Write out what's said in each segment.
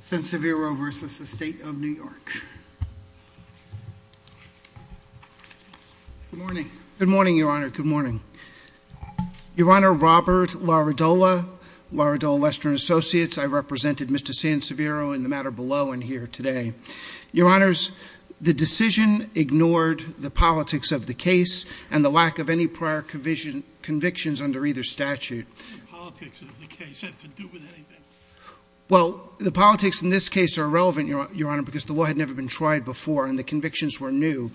Sanseviro v. State of New York. Good morning. Good morning, Your Honor. Good morning. Your Honor, Robert Laradola, Laradola Western Associates. I represented Mr. Sanseviero in the matter below and here today. Your Honors, the decision ignored the politics of the case and the lack of any prior convictions under either statute. Well, the politics in this case are irrelevant, Your Honor, because the law had never been tried before and the convictions were new.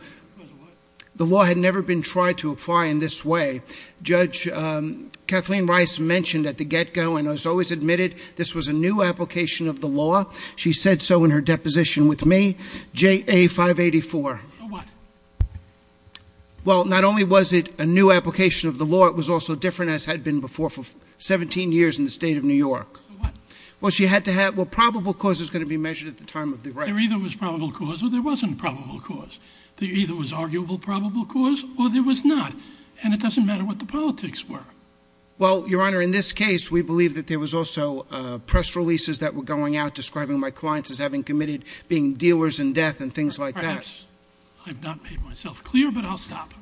The law had never been tried to apply in this way. Judge Kathleen Rice mentioned at the get-go and has always admitted this was a new application of the law. She said so in her deposition with me, JA 584. Well, not only was it a new application of the law, it was also different as had been before for 17 years in the State of New York. Well, she had to have, well, probable cause is going to be measured at the time of the rights. There either was probable cause or there wasn't probable cause. There either was arguable probable cause or there was not and it doesn't matter what the politics were. Well, Your Honor, in this case, we believe that there was also press releases that were going out describing my clients as having committed being dealers in death and things like that. I've not made myself clear, but I'll stop.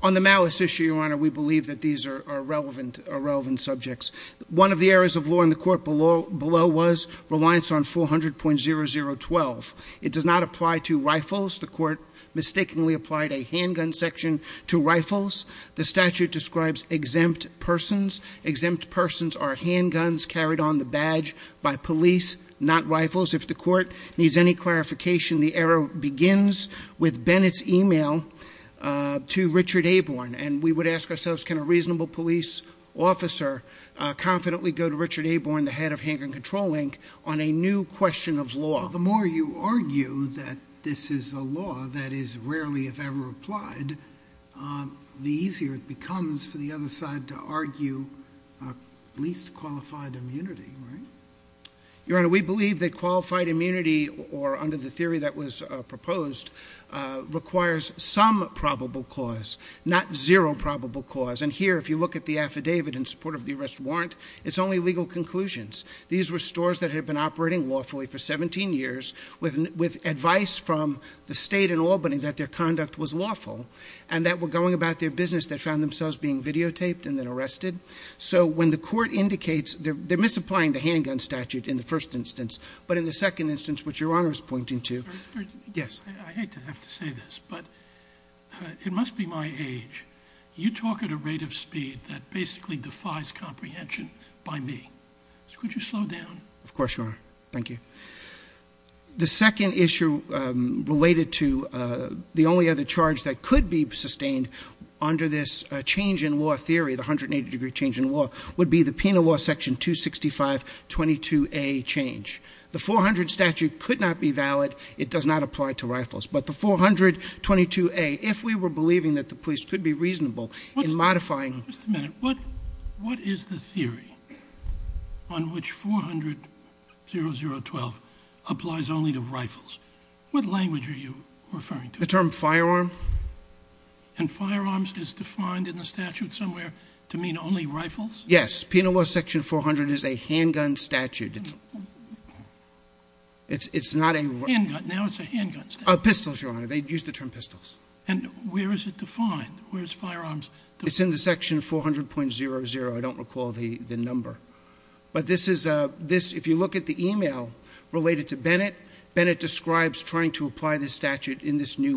On the malice issue, Your Honor, we believe that these are relevant subjects. One of the areas of law in the court below was reliance on 400.0012. It does not apply to rifles. The court mistakenly applied a handgun section to rifles. The statute describes exempt persons. Exempt persons are handguns carried on the badge by police, not rifles. If the court needs any clarification, the error begins with Bennett's email to Richard Aborn and we would ask ourselves, can a reasonable police officer confidently go to Richard Aborn, the head of Handgun Control, Inc., on a new question of law? Well, the more you argue that this is a law that is rarely if ever applied, the easier it becomes for the other side to argue least qualified immunity, right? Your Honor, we believe that qualified immunity, or under the theory that was proposed, requires some probable cause, not zero probable cause, and here if you look at the affidavit in support of the arrest warrant, it's only legal conclusions. These were stores that had been operating lawfully for 17 years with advice from the state in Albany that their conduct was lawful and that were going about their business that found themselves being videotaped and then arrested. So when the court indicates they're misapplying the handgun statute in the first instance, but in the second instance, which Your Honor is pointing to, yes? I hate to have to say this, but it must be my age. You talk at a rate of speed that basically defies comprehension by me. Could you slow down? Of course, Your Honor. Thank you. The second issue related to the only other charge that could be sustained under this change in law theory, the 180-degree change in law, would be the penal law section 26522A change. The 400 statute could not be valid. It does not apply to rifles, but the 422A, if we were believing that the police could be reasonable in modifying... Just a minute. What is the theory on which 4000012 applies only to rifles? What language are you referring to? The term firearm. And firearms is defined in the statute somewhere to mean only rifles? Yes. Penal law section 400 is a handgun statute. It's not a... Handgun. Now it's a handgun statute. Pistols, Your Honor. They use the term pistols. And where is it defined? Where's firearms... It's in the section 400.00. I don't recall the number, but this is, if you look at the email related to Bennett, Bennett describes trying to apply this in an email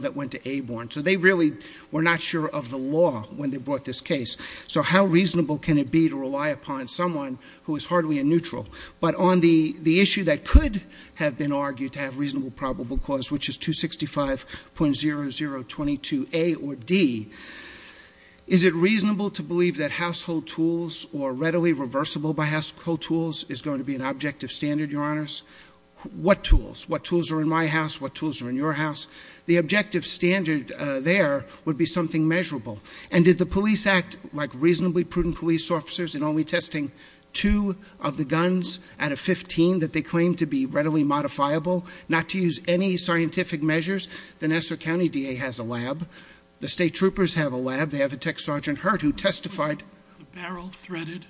that went to Aborn. So they really were not sure of the law when they brought this case. So how reasonable can it be to rely upon someone who is hardly a neutral? But on the issue that could have been argued to have reasonable probable cause, which is 265.0022A or D, is it reasonable to believe that household tools or readily reversible by household tools is going to be an objective standard, Your Honors? What tools? What tools are in my house? What objective standard there would be something measurable? And did the Police Act, like reasonably prudent police officers in only testing two of the guns out of 15 that they claimed to be readily modifiable, not to use any scientific measures? The Nassau County DA has a lab. The state troopers have a lab. They have a Tech Sergeant Hurt who testified... The barrel threaded?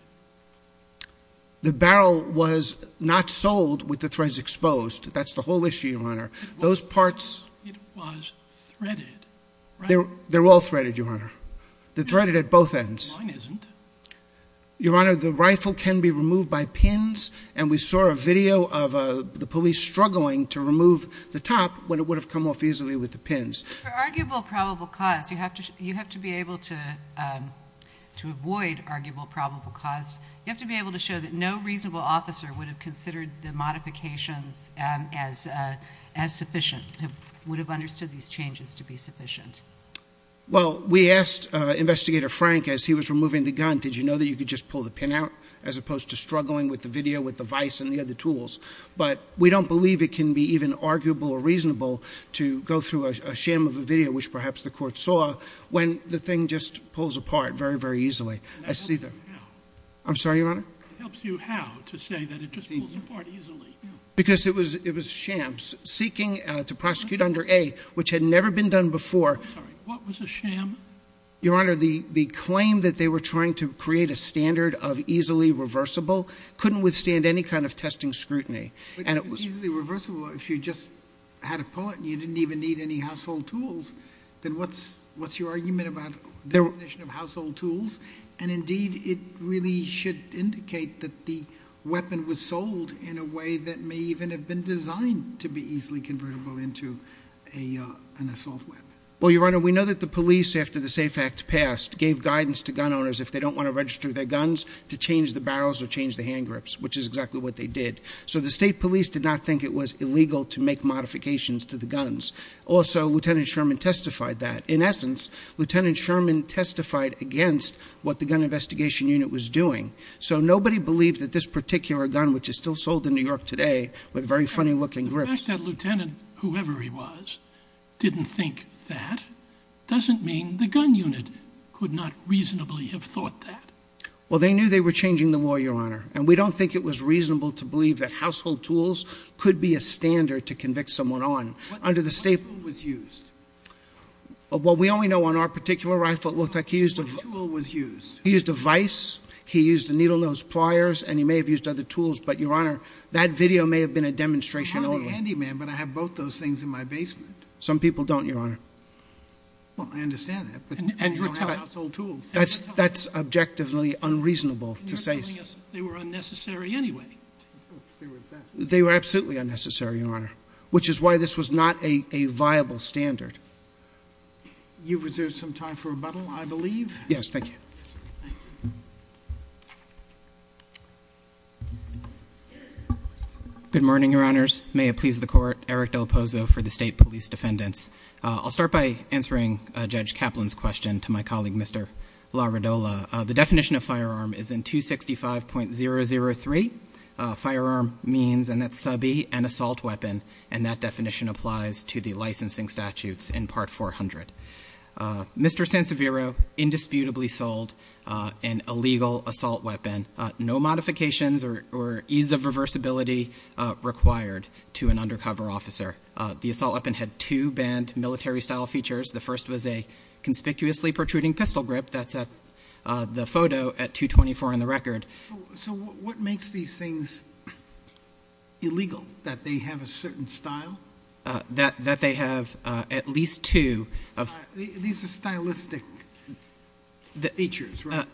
The barrel was not sold with the threads exposed. That's the whole issue, Your Honor. Those parts... It was threaded, right? They're all threaded, Your Honor. They're threaded at both ends. Mine isn't. Your Honor, the rifle can be removed by pins, and we saw a video of the police struggling to remove the top when it would have come off easily with the pins. For arguable probable cause, you have to be able to avoid arguable probable cause. You have to be sure that no reasonable officer would have considered the modifications as sufficient, would have understood these changes to be sufficient. Well, we asked Investigator Frank, as he was removing the gun, did you know that you could just pull the pin out, as opposed to struggling with the video with the vice and the other tools? But we don't believe it can be even arguable or reasonable to go through a sham of a video, which perhaps the court saw, when the thing just pulls apart very, very easily. I see that. I'm sorry, Your Honor? It helps you how to say that it just pulls apart easily. Because it was shams. Seeking to prosecute under A, which had never been done before. Sorry, what was a sham? Your Honor, the claim that they were trying to create a standard of easily reversible couldn't withstand any kind of testing scrutiny, and it was... But easily reversible, if you just had a bullet and you didn't even need any household tools, then what's your argument about definition of household tools? And indeed, it really should indicate that the weapon was sold in a way that may even have been designed to be easily convertible into an assault weapon. Well, Your Honor, we know that the police, after the SAFE Act passed, gave guidance to gun owners, if they don't want to register their guns, to change the barrels or change the hand grips, which is exactly what they did. So the state police did not think it was illegal to make modifications to the guns. Also, Lieutenant Sherman testified that. In essence, Lieutenant Sherman testified against what the Gun Investigation Unit was doing. So nobody believed that this particular gun, which is still sold in New York today, with very funny-looking grips... The fact that Lieutenant, whoever he was, didn't think that, doesn't mean the Gun Unit could not reasonably have thought that. Well, they knew they were changing the law, Your Honor, and we don't think it was reasonable to believe that Well, we only know on our particular rifle, it looked like he used a vice, he used a needle-nose pliers, and he may have used other tools, but, Your Honor, that video may have been a demonstration only. I'm not a handyman, but I have both those things in my basement. Some people don't, Your Honor. Well, I understand that, but you don't have household tools. That's objectively unreasonable to say so. They were unnecessary anyway. They were absolutely unnecessary, Your Honor, which is why this was not a viable standard. You've reserved some time for rebuttal, I believe. Yes, thank you. Good morning, Your Honors. May it please the Court, Eric DelPozo for the State Police Defendants. I'll start by answering Judge Kaplan's question to my colleague, Mr. LaRidola. The definition of firearm is in 265.003. Firearm means, and that's sub-E, an assault weapon, and that definition applies to the licensing statutes in New York. In part 400, Mr. Sanseviero indisputably sold an illegal assault weapon, no modifications or ease of reversibility required to an undercover officer. The assault weapon had two banned military style features. The first was a conspicuously protruding pistol grip, that's the photo at 224 on the record. So what makes these things illegal, that they have a certain style? That they have at least two of- These are stylistic features, right?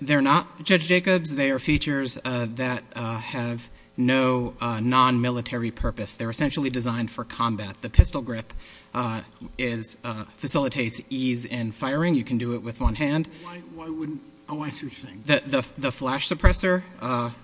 They're not, Judge Jacobs. They are features that have no non-military purpose. They're essentially designed for combat. The pistol grip facilitates ease in firing. You can do it with one hand. Why wouldn't, oh, I see what you're saying. The flash suppressor,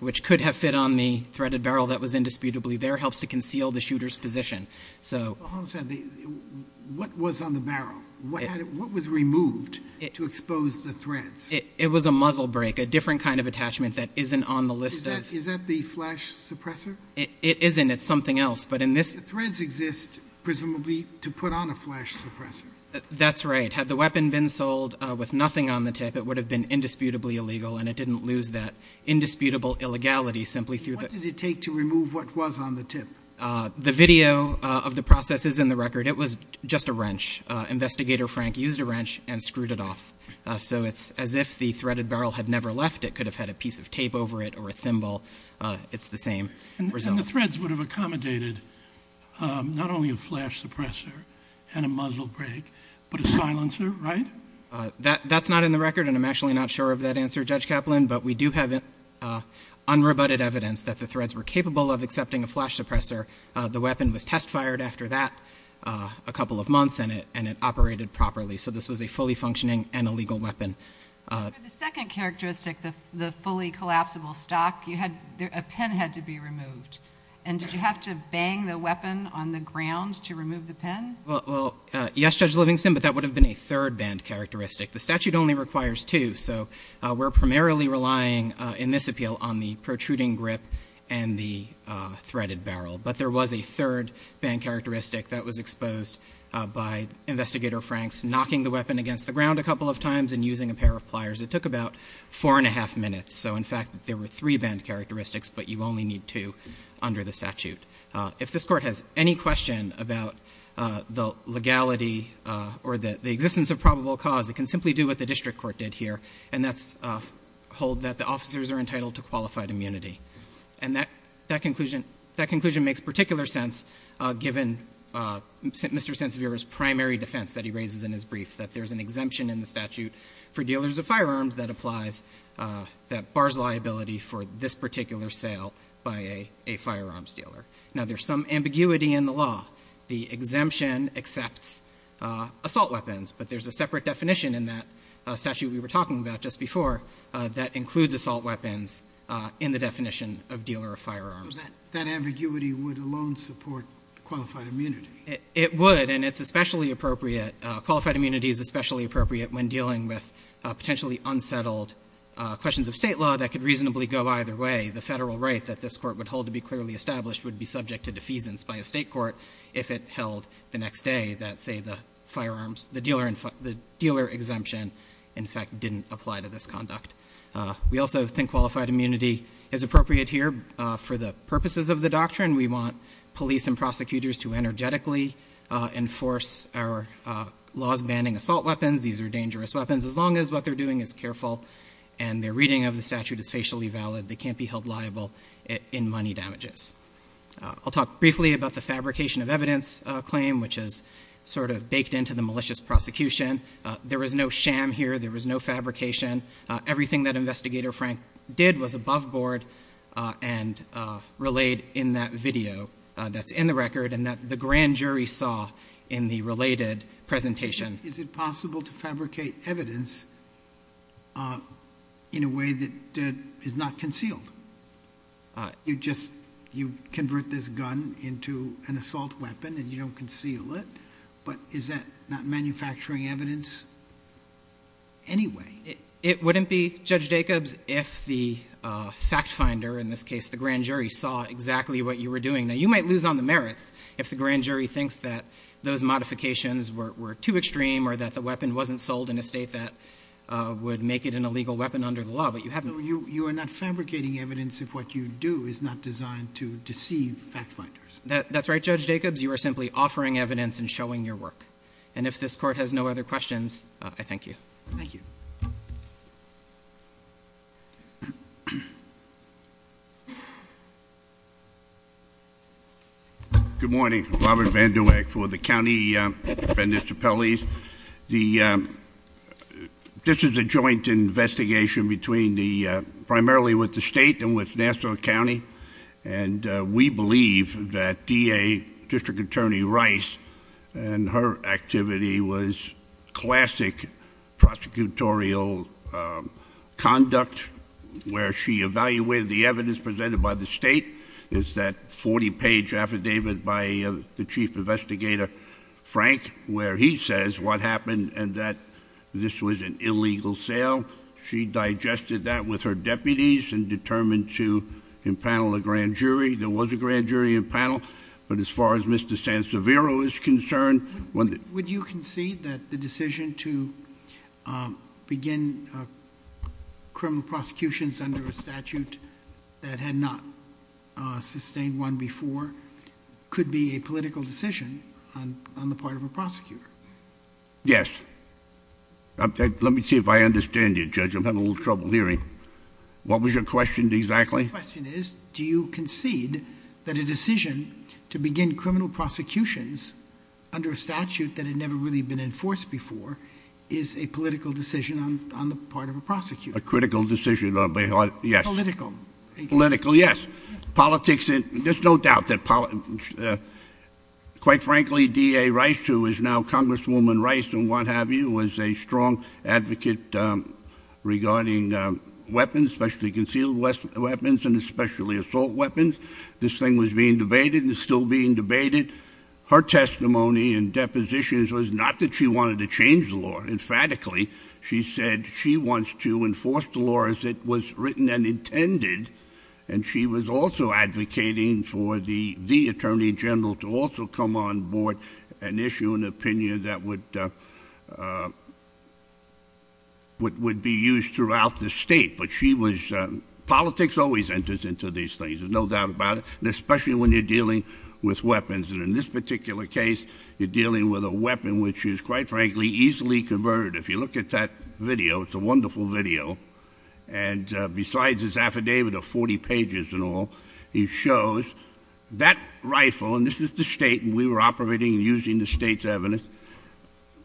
which could have fit on the threaded barrel that was indisputably there, helps to conceal the shooter's position. So- Hold on a second. What was on the barrel? What was removed to expose the threads? It was a muzzle break, a different kind of attachment that isn't on the list of- Is that the flash suppressor? It isn't. It's something else. But in this- The threads exist, presumably, to put on a flash suppressor. That's right. Had the weapon been sold with nothing on the tip, it would have been indisputably illegal, and it didn't lose that indisputable illegality simply through the- What did it take to remove what was on the tip? The video of the process is in the record. It was just a wrench. Investigator Frank used a wrench and screwed it off. So it's as if the threaded barrel had never left. It could have had a piece of tape over it or a thimble. It's the same result. And the threads would have accommodated not only a flash suppressor and a muzzle break, but a silencer, right? That's not in the record, and I'm actually not sure of that answer, Judge Kaplan. But we do have unrebutted evidence that the threads were capable of accepting a flash suppressor. The weapon was test-fired after that a couple of months, and it operated properly. So this was a fully functioning and illegal weapon. For the second characteristic, the fully collapsible stock, a pin had to be removed. And did you have to bang the weapon on the ground to remove the pin? Well, yes, Judge Livingston, but that would have been a third-band characteristic. The statute only requires two, so we're primarily relying in this appeal on the protruding grip and the threaded barrel. But there was a third-band characteristic that was exposed by Investigator Frank's knocking the weapon against the ground a couple of times and using a pair of pliers that took about four and a half minutes. So in fact, there were three-band characteristics, but you only need two under the statute. If this court has any question about the legality or the existence of probable cause, it can simply do what the district court did here, and that's hold that the officers are entitled to qualified immunity. And that conclusion makes particular sense given Mr. There's an exemption in the statute for dealers of firearms that applies, that bars liability for this particular sale by a firearms dealer. Now there's some ambiguity in the law. The exemption accepts assault weapons, but there's a separate definition in that statute we were talking about just before that includes assault weapons in the definition of dealer of firearms. That ambiguity would alone support qualified immunity. It would, and it's especially appropriate. Qualified immunity is especially appropriate when dealing with potentially unsettled questions of state law that could reasonably go either way. The federal right that this court would hold to be clearly established would be subject to defeasance by a state court if it held the next day that say the firearms, the dealer exemption in fact didn't apply to this conduct. We also think qualified immunity is appropriate here for the purposes of the doctrine. We want police and prosecutors to energetically enforce our laws banning assault weapons. These are dangerous weapons. As long as what they're doing is careful and their reading of the statute is facially valid, they can't be held liable in money damages. I'll talk briefly about the fabrication of evidence claim, which is sort of baked into the malicious prosecution. There was no sham here. There was no fabrication. Everything that investigator Frank did was above board and relayed in that video that's in the record and that the grand jury saw in the related presentation. Is it possible to fabricate evidence in a way that is not concealed? You just, you convert this gun into an assault weapon and you don't conceal it. But is that not manufacturing evidence anyway? It wouldn't be, Judge Jacobs, if the fact finder, in this case the grand jury, saw exactly what you were doing. Now you might lose on the merits if the grand jury thinks that those modifications were too extreme or that the weapon wasn't sold in a state that would make it an illegal weapon under the law, but you haven't. You are not fabricating evidence if what you do is not designed to deceive fact finders. That's right, Judge Jacobs, you are simply offering evidence and showing your work. And if this court has no other questions, I thank you. Thank you. Good morning, Robert Vanduweck for the county municipalities. This is a joint investigation between the, primarily with the state and with Nassau County. And we believe that DA, District Attorney Rice and her activity was classic prosecutorial conduct where she evaluated the evidence presented by the state. It's that 40 page affidavit by the Chief Investigator Frank, where he says what happened and that this was an illegal sale. She digested that with her deputies and determined to impanel a grand jury. There was a grand jury impanel, but as far as Mr. Sansevero is concerned- Would you concede that the decision to begin criminal prosecutions under a statute that had not sustained one before could be a political decision on the part of a prosecutor? Yes. Let me see if I understand you, Judge, I'm having a little trouble hearing. What was your question exactly? My question is, do you concede that a decision to begin criminal prosecutions under a statute that had never really been enforced before is a political decision on the part of a prosecutor? A critical decision on behalf, yes. Political. Political, yes. Politics, there's no doubt that, quite frankly, ADDA Rice, who is now Congresswoman Rice and what have you, was a strong advocate regarding weapons, especially concealed weapons and especially assault weapons. This thing was being debated and is still being debated. Her testimony and depositions was not that she wanted to change the law emphatically. She said she wants to enforce the law as it was written and intended. And she was also advocating for the Attorney General to also come on board and issue an opinion that would be used throughout the state. But she was, politics always enters into these things, there's no doubt about it. And especially when you're dealing with weapons. And in this particular case, you're dealing with a weapon which is, quite frankly, easily converted. If you look at that video, it's a wonderful video. And besides his affidavit of 40 pages and all, he shows that rifle, and this is the state, and we were operating and using the state's evidence,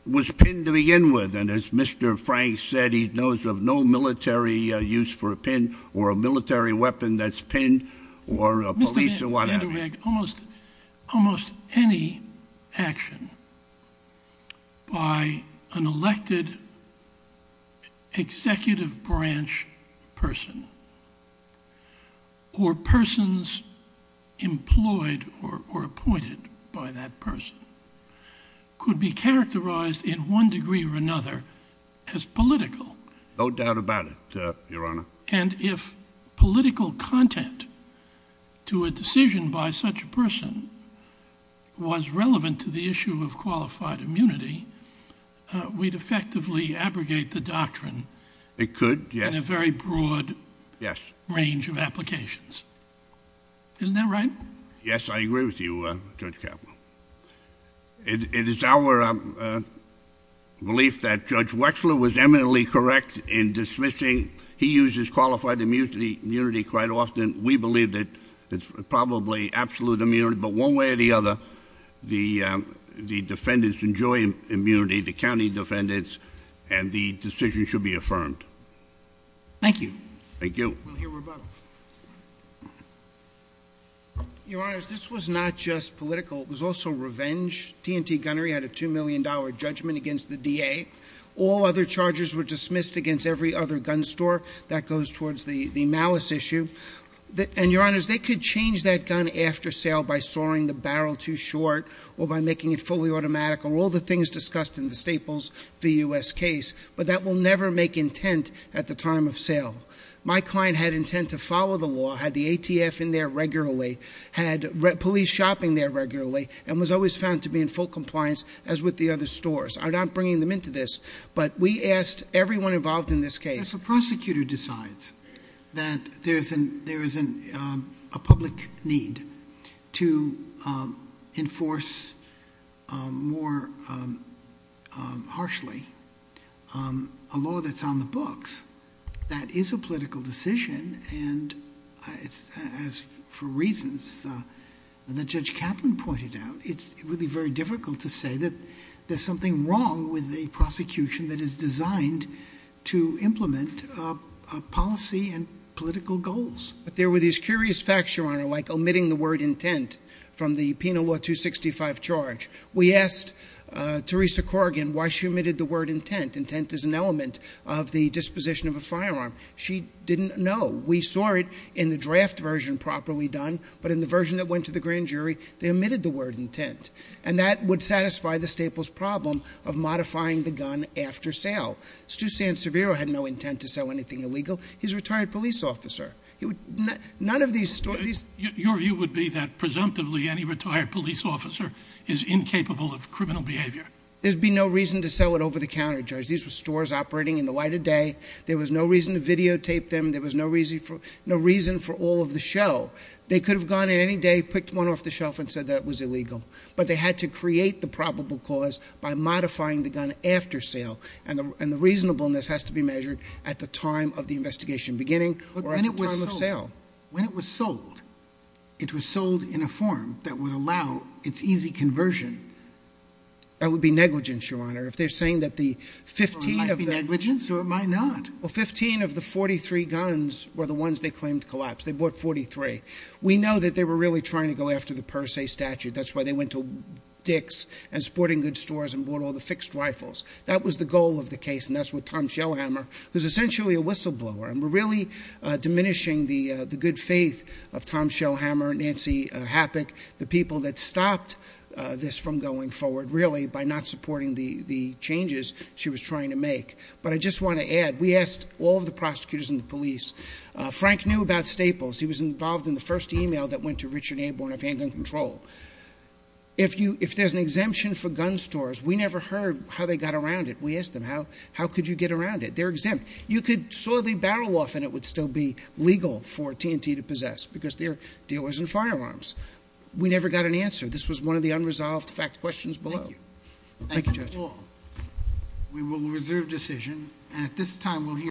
was pinned to begin with. And as Mr. Frank said, he knows of no military use for a pin or a military weapon that's pinned or a police or what have you. Mr. VanderWeg, almost any action by an elected executive branch person, or persons employed or appointed by that person, could be characterized in one degree or another as political. No doubt about it, Your Honor. And if political content to a decision by such a person was relevant to the issue of qualified immunity, we'd effectively abrogate the doctrine. It could, yes. In a very broad. Yes. Range of applications. Isn't that right? Yes, I agree with you, Judge Caput. It is our belief that Judge Wechsler was eminently correct in dismissing, he uses qualified immunity quite often, we believe that it's probably absolute immunity. But one way or the other, the defendants enjoy immunity, the county defendants, and the decision should be affirmed. Thank you. Thank you. We'll hear rebuttal. Your Honors, this was not just political, it was also revenge. TNT Gunnery had a $2 million judgment against the DA. All other charges were dismissed against every other gun store. That goes towards the malice issue. And Your Honors, they could change that gun after sale by soaring the barrel too short, or by making it fully automatic, or all the things discussed in the Staples v US case, but that will never make intent at the time of sale. My client had intent to follow the law, had the ATF in there regularly, had police shopping there regularly, and was always found to be in full compliance as with the other stores. I'm not bringing them into this, but we asked everyone involved in this case. If a prosecutor decides that there is a public need to enforce more harshly a law that's on the books, that is a political decision. And as for reasons that Judge Kaplan pointed out, it's really very difficult to say that there's something wrong with the prosecution that is designed to implement policy and political goals. But there were these curious facts, Your Honor, like omitting the word intent from the Penal Law 265 charge. We asked Theresa Corrigan why she omitted the word intent. Intent is an element of the disposition of a firearm. She didn't know. We saw it in the draft version properly done, but in the version that went to the grand jury, they omitted the word intent. And that would satisfy the Staples problem of modifying the gun after sale. Stew Sanseviero had no intent to sell anything illegal. He's a retired police officer. He would, none of these stories- Your view would be that presumptively any retired police officer is incapable of criminal behavior. There'd be no reason to sell it over the counter, Judge. These were stores operating in the light of day. There was no reason to videotape them. There was no reason for all of the show. They could have gone in any day, picked one off the shelf, and said that was illegal. But they had to create the probable cause by modifying the gun after sale. And the reasonableness has to be measured at the time of the investigation beginning or at the time of sale. When it was sold, it was sold in a form that would allow its easy conversion. That would be negligence, Your Honor. If they're saying that the 15 of the- It might be negligence or it might not. Well, 15 of the 43 guns were the ones they claimed collapsed. They bought 43. We know that they were really trying to go after the per se statute. That's why they went to Dick's and sporting goods stores and bought all the fixed rifles. That was the goal of the case, and that's what Tom Shellhammer, who's essentially a whistleblower. And we're really diminishing the good faith of Tom Shellhammer and Nancy Hapik, the people that stopped this from going forward. Really, by not supporting the changes she was trying to make. But I just want to add, we asked all of the prosecutors and the police. Frank knew about Staples. He was involved in the first email that went to Richard Aborn of Handgun Control. If there's an exemption for gun stores, we never heard how they got around it. We asked them, how could you get around it? They're exempt. You could saw the barrel off and it would still be legal for TNT to possess, because they're dealers in firearms. We never got an answer. This was one of the unresolved fact questions below. Thank you, Judge. We will reserve decision, and at this time we'll hear